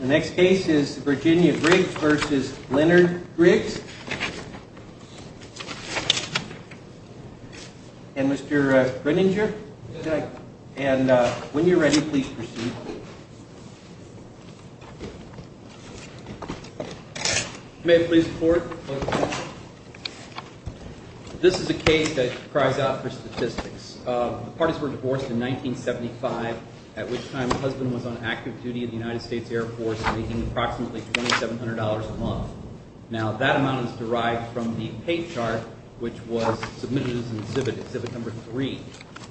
The next case is Virginia Griggs v. Leonard Griggs. And Mr. Grininger? Yes. And when you're ready, please proceed. You may please report. This is a case that cries out for statistics. The parties were divorced in 1975, at which time the husband was on active duty in the United States Air Force making approximately $2,700 a month. Now, that amount is derived from the pay chart, which was submitted as an exhibit, exhibit number three,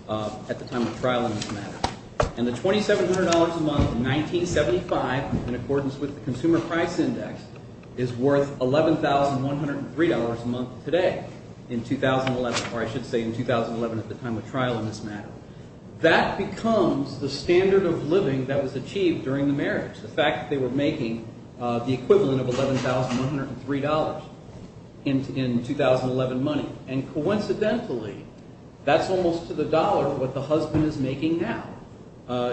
at the time of trial in this matter. And the $2,700 a month in 1975, in accordance with the Consumer Price Index, is worth $11,103 a month today in 2011, or I should say in 2011 at the time of trial in this matter. That becomes the standard of living that was achieved during the marriage, the fact that they were making the equivalent of $11,103 in 2011 money. And coincidentally, that's almost to the dollar what the husband is making now.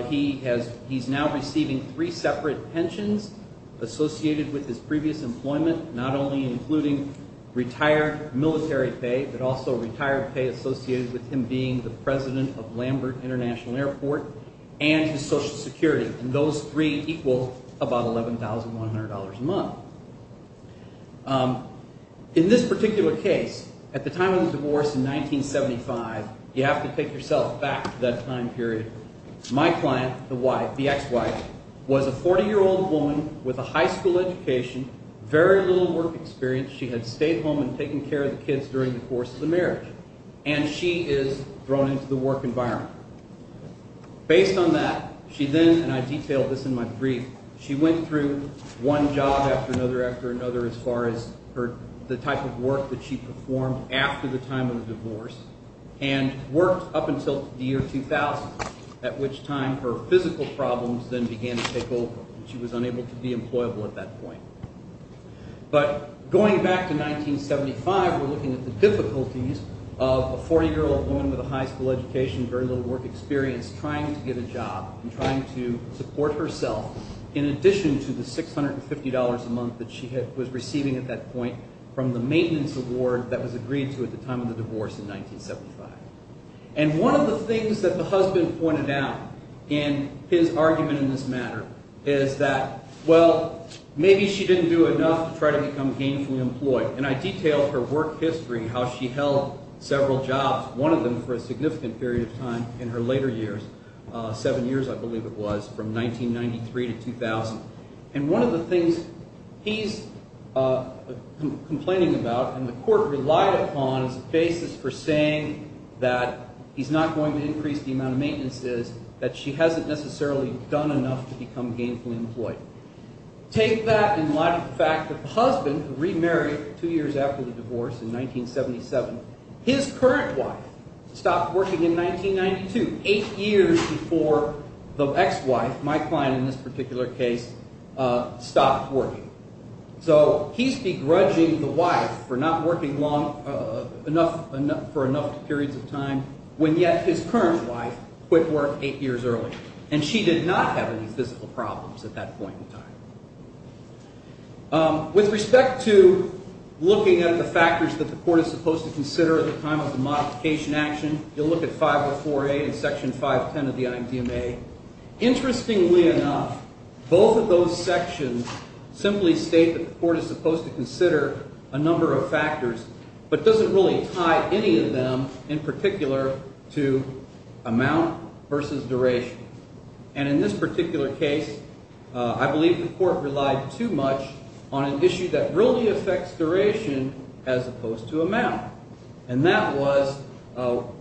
He's now receiving three separate pensions associated with his previous employment, not only including retired military pay, but also retired pay associated with him being the president of Lambert International Airport and his Social Security. And those three equal about $11,100 a month. In this particular case, at the time of the divorce in 1975, you have to take yourself back to that time period. My client, the wife, the ex-wife, was a 40-year-old woman with a high school education, very little work experience. She had stayed home and taken care of the kids during the course of the marriage, and she is thrown into the work environment. Based on that, she then—and I detailed this in my brief—she went through one job after another after another as far as the type of work that she performed after the time of the divorce and worked up until the year 2000, at which time her physical problems then began to take over. She was unable to be employable at that point. But going back to 1975, we're looking at the difficulties of a 40-year-old woman with a high school education, very little work experience, trying to get a job and trying to support herself in addition to the $650 a month that she was receiving at that point from the maintenance award that was agreed to at the time of the divorce in 1975. And one of the things that the husband pointed out in his argument in this matter is that, well, maybe she didn't do enough to try to become gainfully employed. And I detailed her work history, how she held several jobs, one of them for a significant period of time in her later years, seven years, I believe it was, from 1993 to 2000. And one of the things he's complaining about and the court relied upon as a basis for saying that he's not going to increase the amount of maintenance is that she hasn't necessarily done enough to become gainfully employed. Take that in light of the fact that the husband, who remarried two years after the divorce in 1977, his current wife stopped working in 1992, eight years before the ex-wife, my client in this particular case, stopped working. So he's begrudging the wife for not working long enough for enough periods of time when yet his current wife quit work eight years earlier. And she did not have any physical problems at that point in time. With respect to looking at the factors that the court is supposed to consider at the time of the modification action, you'll look at 504A and Section 510 of the IMDMA. Interestingly enough, both of those sections simply state that the court is supposed to consider a number of factors but doesn't really tie any of them in particular to amount versus duration. And in this particular case, I believe the court relied too much on an issue that really affects duration as opposed to amount. And that was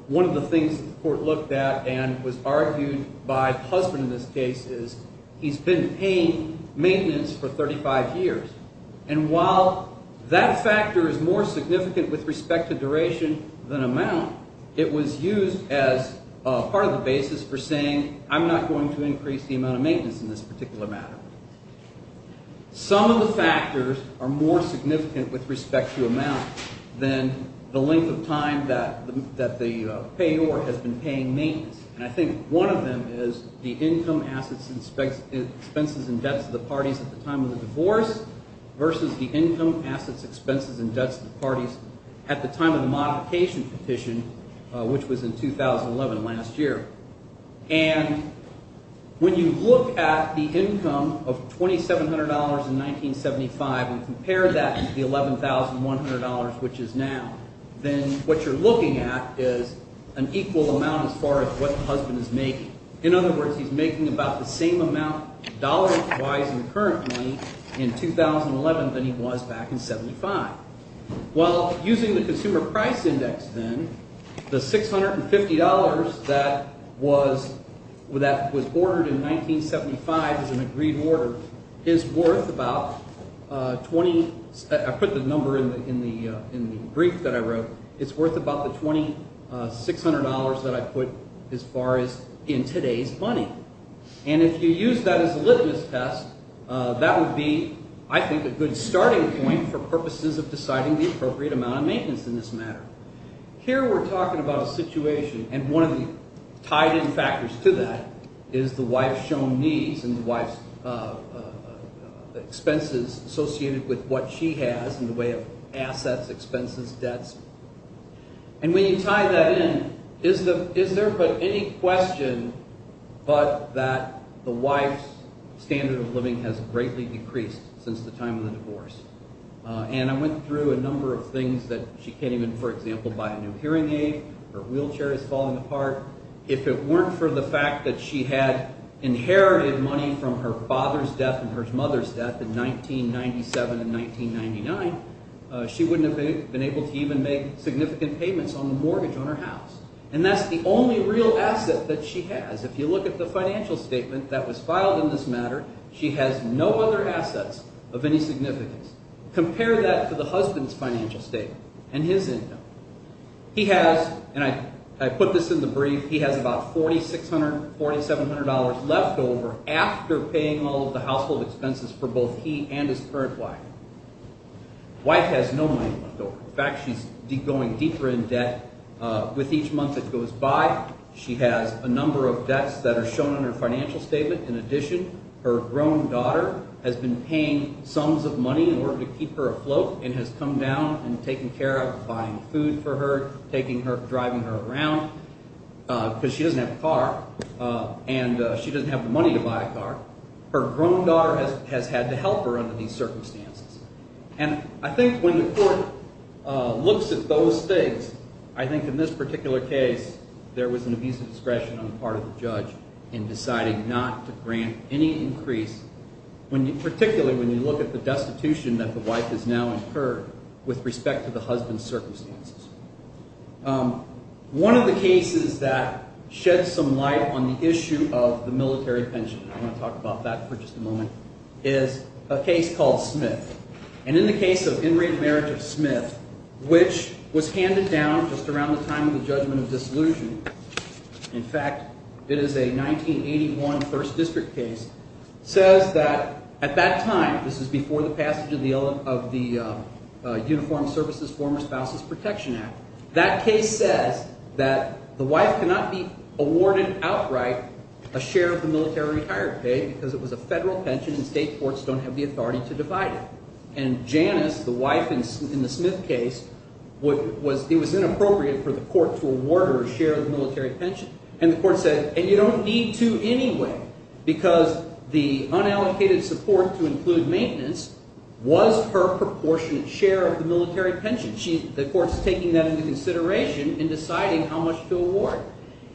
one of the things the court looked at and was argued by the husband in this case is he's been paying maintenance for 35 years. And while that factor is more significant with respect to duration than amount, it was used as part of the basis for saying I'm not going to increase the amount of maintenance in this particular matter. Some of the factors are more significant with respect to amount than the length of time that the payor has been paying maintenance. And I think one of them is the income, assets, expenses, and debts of the parties at the time of the divorce versus the income, assets, expenses, and debts of the parties at the time of the modification petition, which was in 2011, last year. And when you look at the income of $2,700 in 1975 and compare that to the $11,100, which is now, then what you're looking at is an equal amount as far as what the husband is making. In other words, he's making about the same amount dollar-wise and currently in 2011 than he was back in 75. Well, using the Consumer Price Index then, the $650 that was ordered in 1975 as an agreed order is worth about 20 – I put the number in the brief that I wrote. It's worth about the $2,600 that I put as far as in today's money. And if you use that as a litmus test, that would be, I think, a good starting point for purposes of deciding the appropriate amount of maintenance in this matter. Here we're talking about a situation, and one of the tied-in factors to that is the wife's shown needs and the wife's expenses associated with what she has in the way of assets, expenses, debts. And when you tie that in, is there but any question but that the wife's standard of living has greatly decreased since the time of the divorce? And I went through a number of things that she can't even, for example, buy a new hearing aid. Her wheelchair is falling apart. If it weren't for the fact that she had inherited money from her father's death and her mother's death in 1997 and 1999, she wouldn't have been able to even make significant payments on the mortgage on her house. And that's the only real asset that she has. If you look at the financial statement that was filed in this matter, she has no other assets of any significance. Compare that to the husband's financial statement and his income. He has, and I put this in the brief, he has about $4,600, $4,700 left over after paying all of the household expenses for both he and his current wife. Wife has no money left over. In fact, she's going deeper in debt. With each month that goes by, she has a number of debts that are shown on her financial statement. In addition, her grown daughter has been paying sums of money in order to keep her afloat and has come down and taken care of buying food for her, taking her – driving her around because she doesn't have a car, and she doesn't have the money to buy a car. Her grown daughter has had to help her under these circumstances. And I think when the court looks at those things, I think in this particular case, there was an abuse of discretion on the part of the judge in deciding not to grant any increase, particularly when you look at the destitution that the wife has now incurred with respect to the husband's circumstances. One of the cases that sheds some light on the issue of the military pension, and I want to talk about that for just a moment, is a case called Smith. And in the case of In re Merit of Smith, which was handed down just around the time of the judgment of dissolution – in fact, it is a 1981 1st District case – says that at that time – this is before the passage of the Uniformed Services Former Spouses Protection Act – that case says that the wife cannot be awarded outright a share of the military retired pay because it was a federal pension and state courts don't have the authority to divide it. And Janice, the wife in the Smith case, it was inappropriate for the court to award her a share of the military pension. And the court said, and you don't need to anyway because the unallocated support to include maintenance was her proportionate share of the military pension. The court's taking that into consideration in deciding how much to award.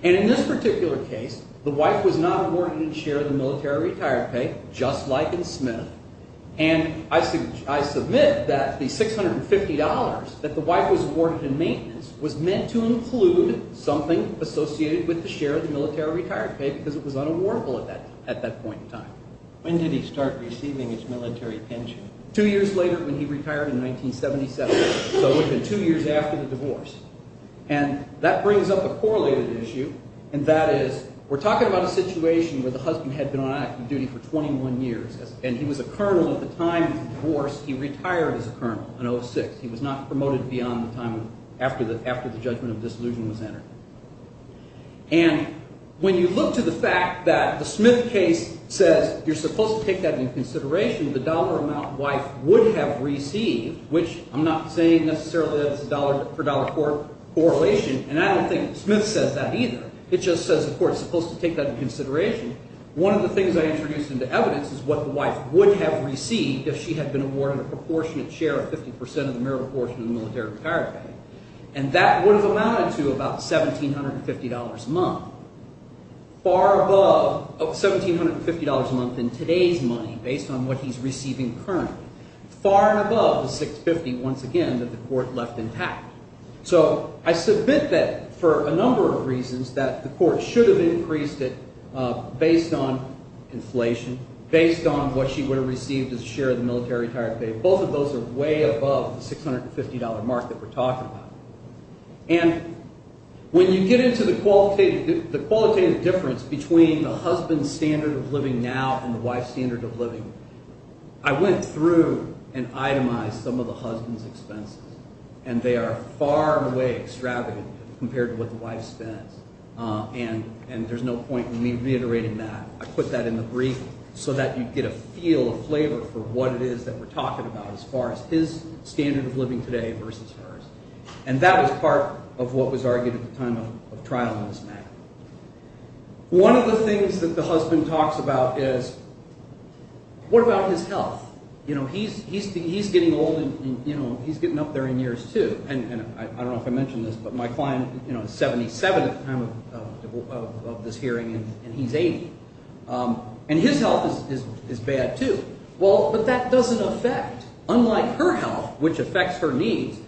And in this particular case, the wife was not awarded a share of the military retired pay, just like in Smith. And I submit that the $650 that the wife was awarded in maintenance was meant to include something associated with the share of the military retired pay because it was unawardable at that point in time. When did he start receiving his military pension? Two years later when he retired in 1977, so within two years after the divorce. And that brings up a correlated issue, and that is we're talking about a situation where the husband had been on active duty for 21 years, and he was a colonel at the time of the divorce. He retired as a colonel in 06. He was not promoted beyond the time after the judgment of disillusionment was entered. And when you look to the fact that the Smith case says you're supposed to take that into consideration, the dollar amount the wife would have received, which I'm not saying necessarily that it's a dollar-for-dollar correlation, and I don't think Smith says that either. It just says the court is supposed to take that into consideration. One of the things I introduced into evidence is what the wife would have received if she had been awarded a proportionate share of 50% of the meritorious portion of the military retired pay. And that would have amounted to about $1,750 a month, far above $1,750 a month in today's money based on what he's receiving currently, far above the $650, once again, that the court left intact. So I submit that for a number of reasons that the court should have increased it based on inflation, based on what she would have received as a share of the military retired pay. Both of those are way above the $650 mark that we're talking about. And when you get into the qualitative difference between the husband's standard of living now and the wife's standard of living, I went through and itemized some of the husband's expenses, and they are far and away extravagant compared to what the wife spends. And there's no point in me reiterating that. I put that in the brief so that you'd get a feel, a flavor for what it is that we're talking about as far as his standard of living today versus hers. And that was part of what was argued at the time of trial in this matter. One of the things that the husband talks about is what about his health? He's getting old, and he's getting up there in years too. And I don't know if I mentioned this, but my client is 77 at the time of this hearing, and he's 80. And his health is bad too. Well, but that doesn't affect, unlike her health, which affects her needs,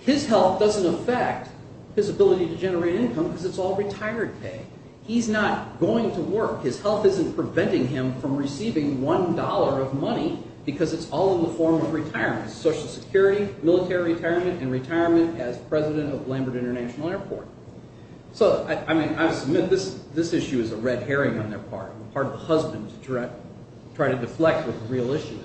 his health doesn't affect his ability to generate income because it's all retired pay. He's not going to work. His health isn't preventing him from receiving $1 of money because it's all in the form of retirement, Social Security, military retirement, and retirement as president of Lambert International Airport. So, I mean, I submit this issue is a red herring on their part, on the part of the husband to try to deflect what the real issue is.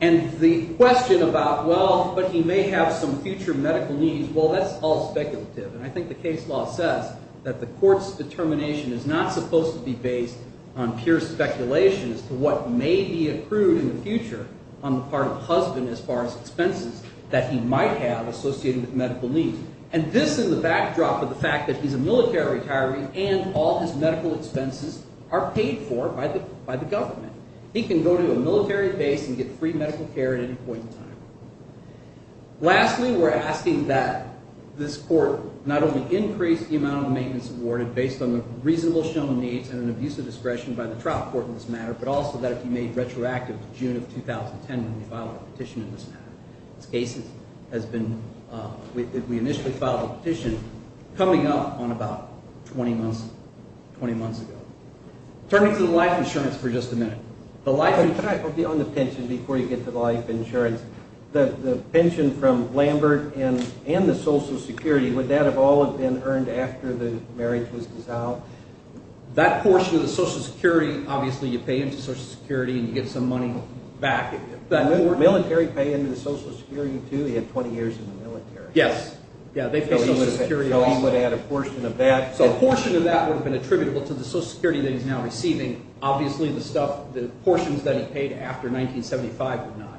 And the question about, well, but he may have some future medical needs, well, that's all speculative. And I think the case law says that the court's determination is not supposed to be based on pure speculation as to what may be accrued in the future on the part of the husband as far as expenses that he might have associated with medical needs. And this is the backdrop of the fact that he's a military retiree and all his medical expenses are paid for by the government. He can go to a military base and get free medical care at any point in time. Lastly, we're asking that this court not only increase the amount of maintenance awarded based on the reasonable shown needs and an abuse of discretion by the trial court in this matter, but also that it be made retroactive to June of 2010 when we filed the petition in this matter. This case has been – we initially filed the petition coming up on about 20 months ago. Turning to the life insurance for just a minute. The life insurance – Could I be on the pension before you get to the life insurance? The pension from Lambert and the Social Security, would that have all been earned after the marriage was dissolved? That portion of the Social Security, obviously you pay into Social Security and you get some money back. Military pay into the Social Security too? He had 20 years in the military. Yes. Yeah, they paid Social Security. So he would have had a portion of that. A portion of that would have been attributable to the Social Security that he's now receiving. Obviously the stuff – the portions that he paid after 1975 were not.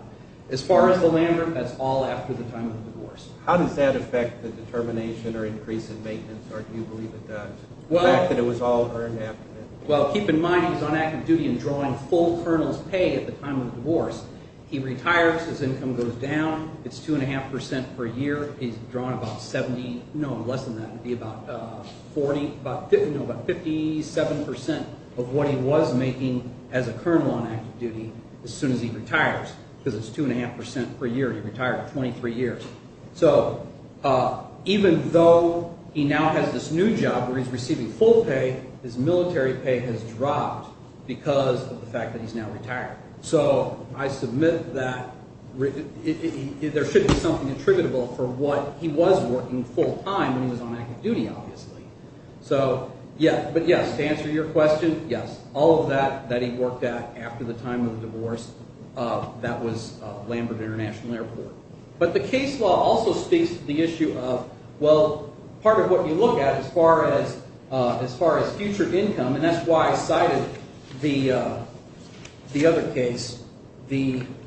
As far as the Lambert, that's all after the time of the divorce. How does that affect the determination or increase in maintenance or do you believe it does? The fact that it was all earned after the – Well, keep in mind he was on active duty and drawing full colonel's pay at the time of the divorce. He retires. His income goes down. It's 2.5 percent per year. He's drawn about 70 – no, less than that. It would be about 40 – no, about 57 percent of what he was making as a colonel on active duty as soon as he retires. Because it's 2.5 percent per year. He retired 23 years. So even though he now has this new job where he's receiving full pay, his military pay has dropped because of the fact that he's now retired. So I submit that there should be something attributable for what he was working full time when he was on active duty obviously. So yeah, but yes, to answer your question, yes, all of that that he worked at after the time of the divorce, that was Lambert International Airport. But the case law also speaks to the issue of, well, part of what you look at as far as future income, and that's why I cited the other case, the –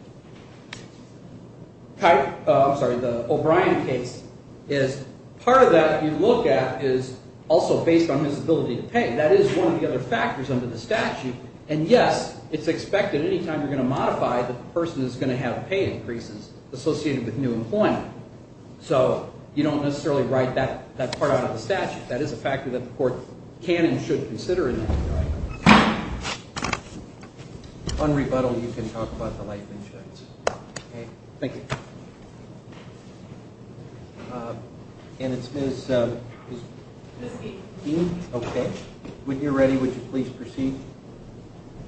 I'm sorry. The O'Brien case is part of that you look at is also based on his ability to pay. That is one of the other factors under the statute, and yes, it's expected anytime you're going to modify that the person is going to have pay increases. It's associated with new employment. So you don't necessarily write that part out of the statute. That is a factor that the court can and should consider in this case. On rebuttal, you can talk about the life insurance. Okay, thank you. And it's Ms. – Miske. Miske, okay. When you're ready, would you please proceed?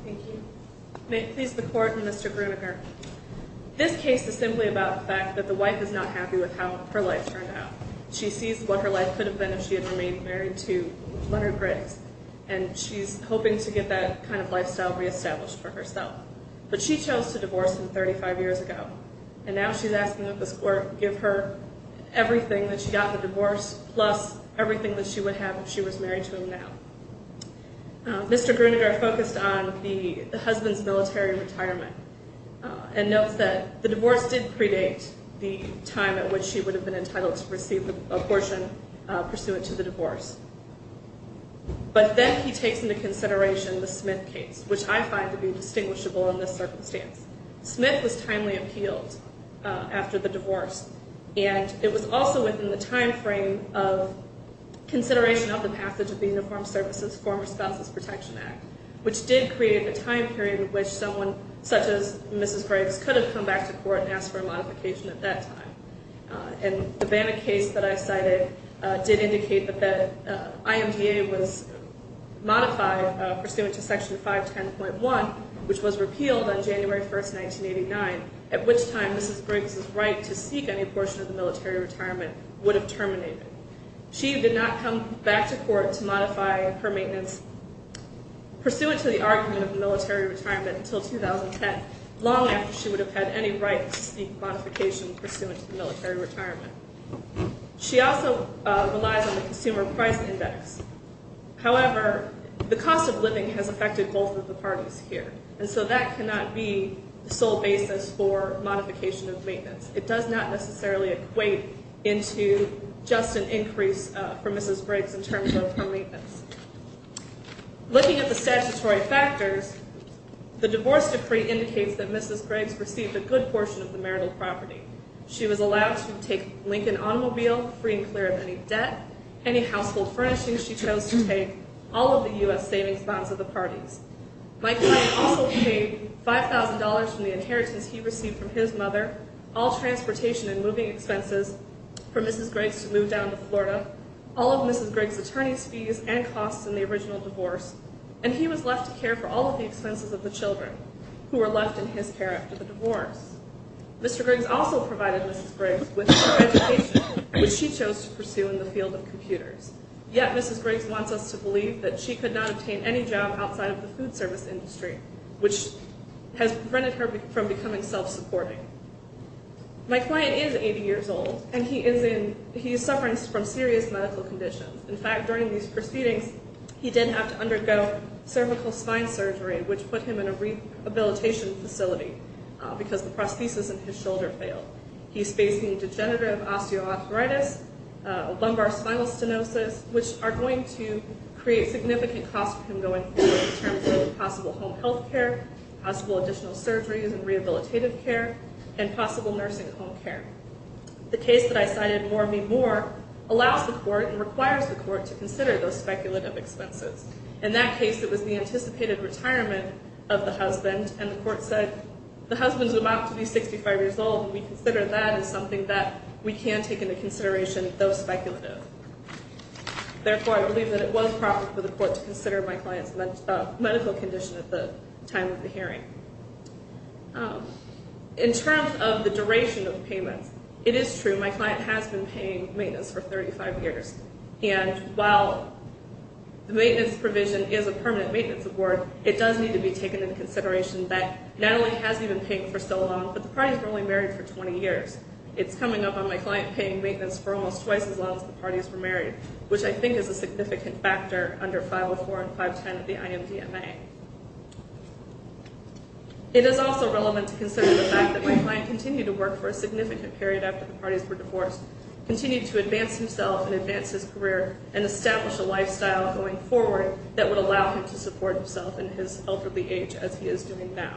Thank you. May it please the Court, Mr. Gruninger. This case is simply about the fact that the wife is not happy with how her life turned out. She sees what her life could have been if she had remained married to Leonard Briggs, and she's hoping to get that kind of lifestyle reestablished for herself. But she chose to divorce him 35 years ago, and now she's asking that the court give her everything that she got in the divorce plus everything that she would have if she was married to him now. Mr. Gruninger focused on the husband's military retirement and notes that the divorce did predate the time at which she would have been entitled to receive an abortion pursuant to the divorce. But then he takes into consideration the Smith case, which I find to be distinguishable in this circumstance. Smith was timely appealed after the divorce, and it was also within the timeframe of consideration of the passage of the Uniformed Services Former Spouses Protection Act, which did create a time period in which someone such as Mrs. Briggs could have come back to court and asked for a modification at that time. And the Banna case that I cited did indicate that the IMDA was modified pursuant to Section 510.1, which was repealed on January 1st, 1989, at which time Mrs. Briggs' right to seek any portion of the military retirement would have terminated. She did not come back to court to modify her maintenance pursuant to the argument of military retirement until 2010, long after she would have had any right to seek modification pursuant to the military retirement. She also relies on the Consumer Price Index. However, the cost of living has affected both of the parties here, and so that cannot be the sole basis for modification of maintenance. It does not necessarily equate into just an increase for Mrs. Briggs in terms of her maintenance. Looking at the statutory factors, the divorce decree indicates that Mrs. Briggs received a good portion of the marital property. She was allowed to take Lincoln Automobile, free and clear of any debt, any household furnishings she chose to take, all of the U.S. savings bonds of the parties. My client also paid $5,000 from the inheritance he received from his mother, all transportation and moving expenses for Mrs. Briggs to move down to Florida, all of Mrs. Briggs' attorney's fees and costs in the original divorce, and he was left to care for all of the expenses of the children who were left in his care after the divorce. Mr. Briggs also provided Mrs. Briggs with her education, which she chose to pursue in the field of computers. Yet Mrs. Briggs wants us to believe that she could not obtain any job outside of the food service industry, which has prevented her from becoming self-supporting. My client is 80 years old, and he is suffering from serious medical conditions. In fact, during these proceedings, he did have to undergo cervical spine surgery, which put him in a rehabilitation facility because the prosthesis in his shoulder failed. He's facing degenerative osteoarthritis, lumbar spinal stenosis, which are going to create significant costs for him going forward in terms of possible home health care, possible additional surgeries and rehabilitative care, and possible nursing home care. The case that I cited, More Me More, allows the court and requires the court to consider those speculative expenses. In that case, it was the anticipated retirement of the husband, and the court said, the husband's about to be 65 years old, and we consider that as something that we can take into consideration, though speculative. Therefore, I believe that it was proper for the court to consider my client's medical condition at the time of the hearing. In terms of the duration of payments, it is true my client has been paying maintenance for 35 years, and while the maintenance provision is a permanent maintenance award, it does need to be taken into consideration that not only has he been paying for so long, but the parties were only married for 20 years. It's coming up on my client paying maintenance for almost twice as long as the parties were married, which I think is a significant factor under 504 and 510 of the IMDMA. It is also relevant to consider the fact that my client continued to work for a significant period after the parties were divorced, continued to advance himself and advance his career, and establish a lifestyle going forward that would allow him to support himself in his elderly age as he is doing now.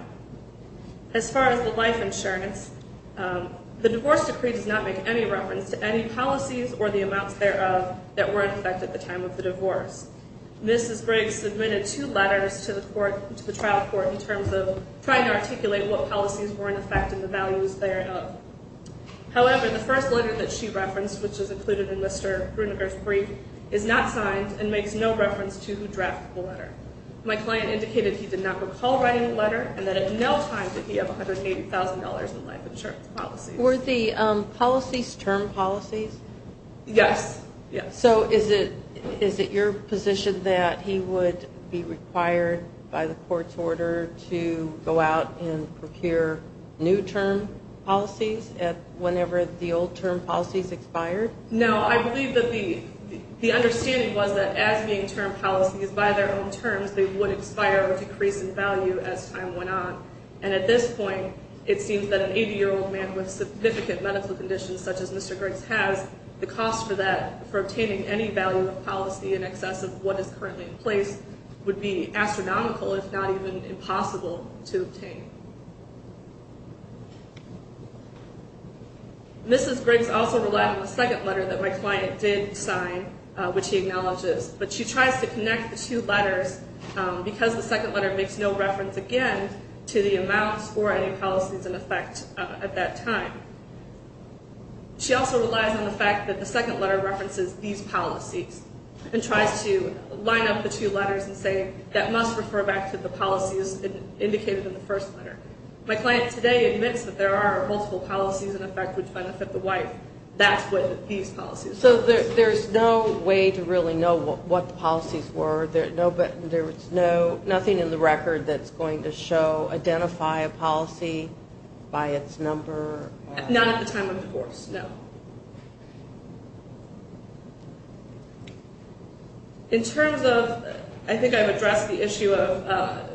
As far as the life insurance, the divorce decree does not make any reference to any policies or the amounts thereof that were in effect at the time of the divorce. Mrs. Briggs submitted two letters to the trial court in terms of trying to articulate what policies were in effect and the values thereof. However, the first letter that she referenced, which is included in Mr. Gruninger's brief, is not signed and makes no reference to who drafted the letter. My client indicated he did not recall writing the letter and that at no time did he have $180,000 in life insurance policies. Were the policies term policies? Yes. So is it your position that he would be required by the court's order to go out and procure new term policies whenever the old term policies expired? No, I believe that the understanding was that as being term policies by their own terms, they would expire or decrease in value as time went on. And at this point, it seems that an 80-year-old man with significant medical conditions such as Mr. Griggs has, the cost for obtaining any value of policy in excess of what is currently in place would be astronomical if not even impossible to obtain. Mrs. Briggs also relied on the second letter that my client did sign, which he acknowledges, but she tries to connect the two letters because the second letter makes no reference again to the amounts or any policies in effect at that time. She also relies on the fact that the second letter references these policies and tries to line up the two letters and say that must refer back to the policies indicated in the first letter. My client today admits that there are multiple policies in effect which benefit the wife. That's what these policies are. So there's no way to really know what the policies were. There's nothing in the record that's going to show, identify a policy by its number? Not at the time of divorce, no. In terms of, I think I've addressed the issue of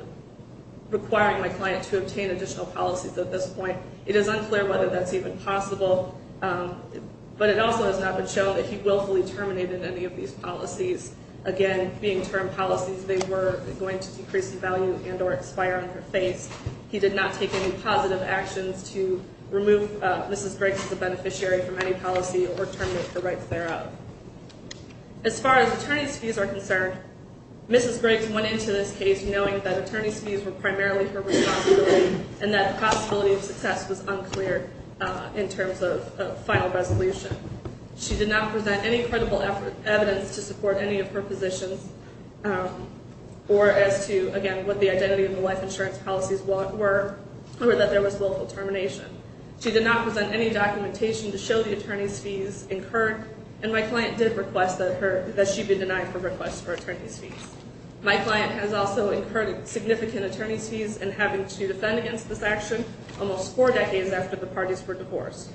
requiring my client to obtain additional policies at this point. It is unclear whether that's even possible, but it also has not been shown that he willfully terminated any of these policies. Again, being termed policies, they were going to decrease in value and or expire on her face. He did not take any positive actions to remove Mrs. Briggs as a beneficiary from any policy or terminate the rights thereof. As far as attorney's fees are concerned, Mrs. Briggs went into this case knowing that attorney's fees were primarily her responsibility and that the possibility of success was unclear in terms of a final resolution. She did not present any credible evidence to support any of her positions or as to, again, what the identity of the wife insurance policies were or that there was willful termination. She did not present any documentation to show the attorney's fees incurred, and my client did request that she be denied her request for attorney's fees. My client has also incurred significant attorney's fees in having to defend against this action almost four decades after the parties were divorced.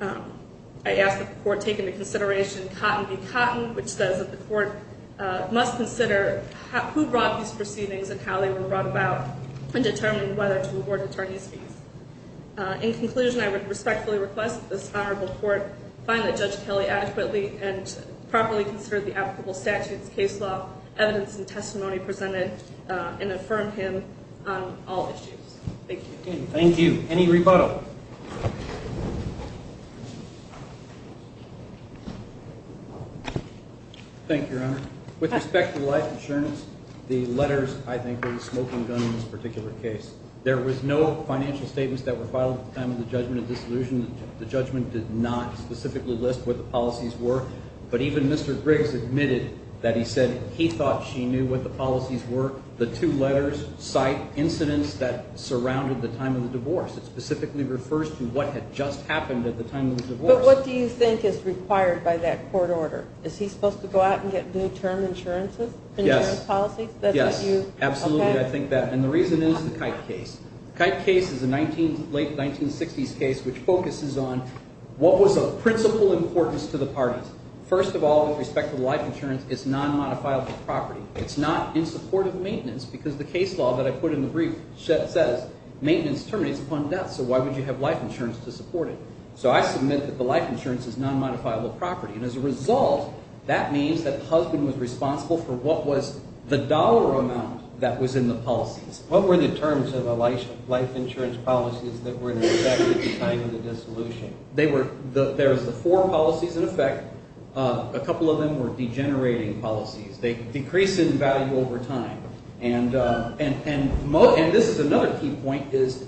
I ask that the court take into consideration Cotton v. Cotton, which says that the court must consider who brought these proceedings and how they were brought about and determine whether to award attorney's fees. In conclusion, I would respectfully request that this honorable court find that Judge Kelly adequately and properly considered the applicable statutes, case law, evidence, and testimony presented and affirm him on all issues. Thank you. Thank you. Any rebuttal? Thank you, Your Honor. With respect to the wife insurance, the letters, I think, were the smoking gun in this particular case. There was no financial statements that were filed at the time of the judgment of disillusion. The judgment did not specifically list what the policies were, but even Mr. Griggs admitted that he said he thought she knew what the policies were. The two letters cite incidents that surrounded the time of the divorce. It specifically refers to what had just happened at the time of the divorce. But what do you think is required by that court order? Is he supposed to go out and get new term insurances? Yes. Insurance policies? Yes. Absolutely, I think that. And the reason is the Kite case. The Kite case is a late 1960s case which focuses on what was of principal importance to the parties. First of all, with respect to the life insurance, it's non-modifiable property. It's not in support of maintenance because the case law that I put in the brief says maintenance terminates upon death. So why would you have life insurance to support it? So I submit that the life insurance is non-modifiable property, and as a result, that means that the husband was responsible for what was the dollar amount that was in the policies. What were the terms of the life insurance policies that were in effect at the time of the dissolution? They were – there was the four policies in effect. A couple of them were degenerating policies. They decrease in value over time. And this is another key point is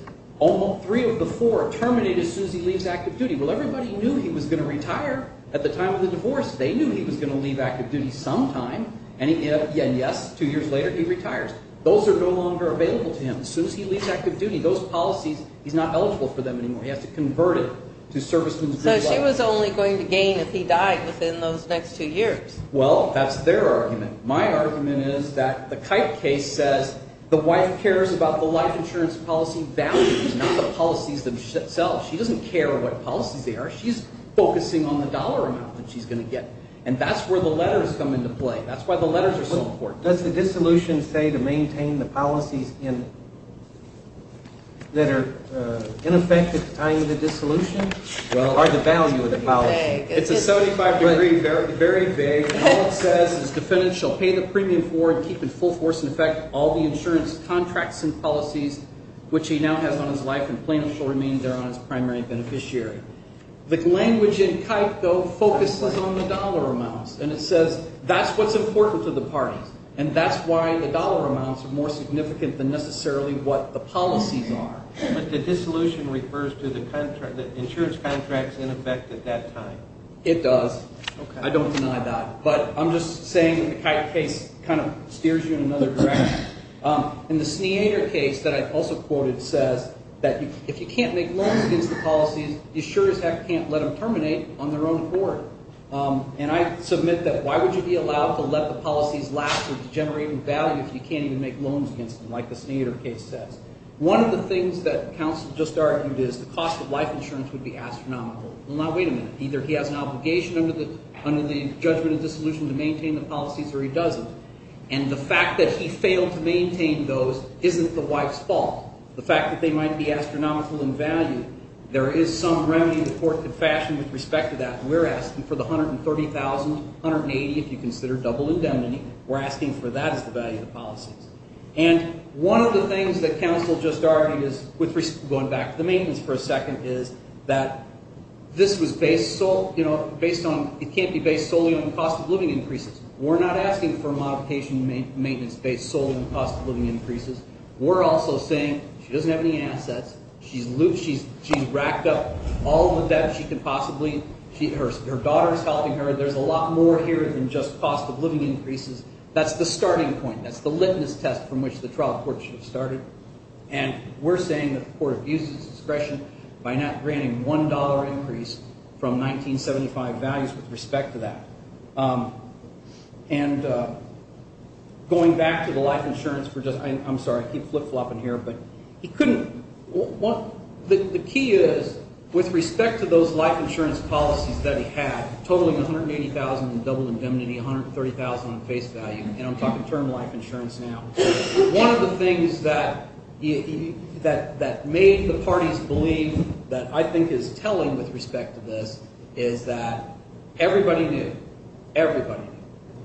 three of the four terminated as soon as he leaves active duty. Well, everybody knew he was going to retire at the time of the divorce. They knew he was going to leave active duty sometime, and yes, two years later he retires. Those are no longer available to him. As soon as he leaves active duty, those policies, he's not eligible for them anymore. He has to convert it to serviceman's good life. So she was only going to gain if he died within those next two years. Well, that's their argument. My argument is that the Kike case says the wife cares about the life insurance policy values, not the policies themselves. She doesn't care what policies they are. She's focusing on the dollar amount that she's going to get. And that's where the letters come into play. That's why the letters are so important. Does the dissolution say to maintain the policies that are in effect at the time of the dissolution? Or the value of the policy? It's a 75-degree, very vague. All it says is defendants shall pay the premium for and keep in full force in effect all the insurance contracts and policies, which he now has on his life, and plaintiffs shall remain there on his primary beneficiary. The language in Kike, though, focuses on the dollar amounts. And it says that's what's important to the parties. And that's why the dollar amounts are more significant than necessarily what the policies are. But the dissolution refers to the insurance contracts in effect at that time. It does. I don't deny that. But I'm just saying that the Kike case kind of steers you in another direction. And the Sneader case that I also quoted says that if you can't make loans against the policies, insurers can't let them terminate on their own accord. And I submit that why would you be allowed to let the policies lapse or degenerate in value if you can't even make loans against them, like the Sneader case says? One of the things that counsel just argued is the cost of life insurance would be astronomical. Well, now, wait a minute. Either he has an obligation under the judgment of dissolution to maintain the policies or he doesn't. And the fact that he failed to maintain those isn't the wife's fault. The fact that they might be astronomical in value, there is some remedy the court could fashion with respect to that. We're asking for the $130,000, $180,000 if you consider double indemnity. We're asking for that as the value of the policies. And one of the things that counsel just argued is, going back to the maintenance for a second, is that this was based solely on cost of living increases. We're not asking for modification maintenance based solely on cost of living increases. We're also saying she doesn't have any assets. She's loose. She's racked up all the debt she can possibly. Her daughter is helping her. There's a lot more here than just cost of living increases. That's the starting point. That's the litmus test from which the trial court should have started. And we're saying that the court abuses discretion by not granting $1 increase from 1975 values with respect to that. And going back to the life insurance for just – I'm sorry, I keep flip-flopping here, but he couldn't – the key is with respect to those life insurance policies that he had, totaling $180,000 in double indemnity, $130,000 in face value, and I'm talking term life insurance now. One of the things that made the parties believe that I think is telling with respect to this is that everybody knew. Everybody knew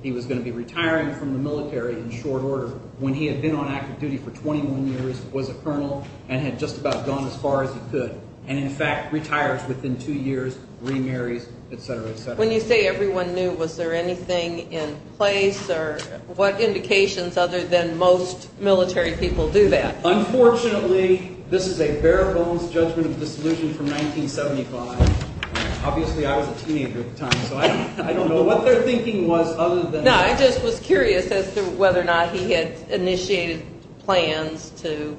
he was going to be retiring from the military in short order when he had been on active duty for 21 years, was a colonel, and had just about gone as far as he could and, in fact, retires within two years, remarries, et cetera, et cetera. When you say everyone knew, was there anything in place or what indications other than most military people do that? Unfortunately, this is a bare-bones judgment of disillusion from 1975. Obviously, I was a teenager at the time, so I don't know what their thinking was other than that. No, I just was curious as to whether or not he had initiated plans to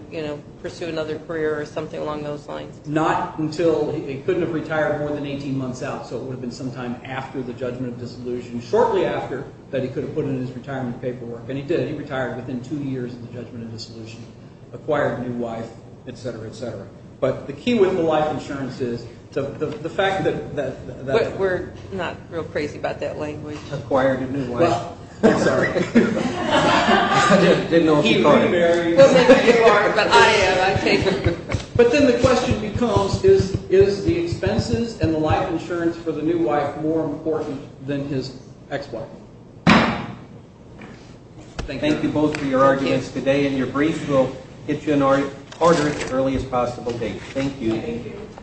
pursue another career or something along those lines. Not until he couldn't have retired more than 18 months out, so it would have been sometime after the judgment of disillusion, shortly after that he could have put in his retirement paperwork, and he did. He retired within two years of the judgment of disillusion, acquired a new wife, et cetera, et cetera. But the key with the life insurance is the fact that that – We're not real crazy about that language. Acquired a new wife. I'm sorry. I didn't know what you called it. He remarried. I am. But then the question becomes is the expenses and the life insurance for the new wife more important than his ex-wife? Thank you. Thank you both for your arguments today and your briefs. We'll get you an order as early as possible. Thank you.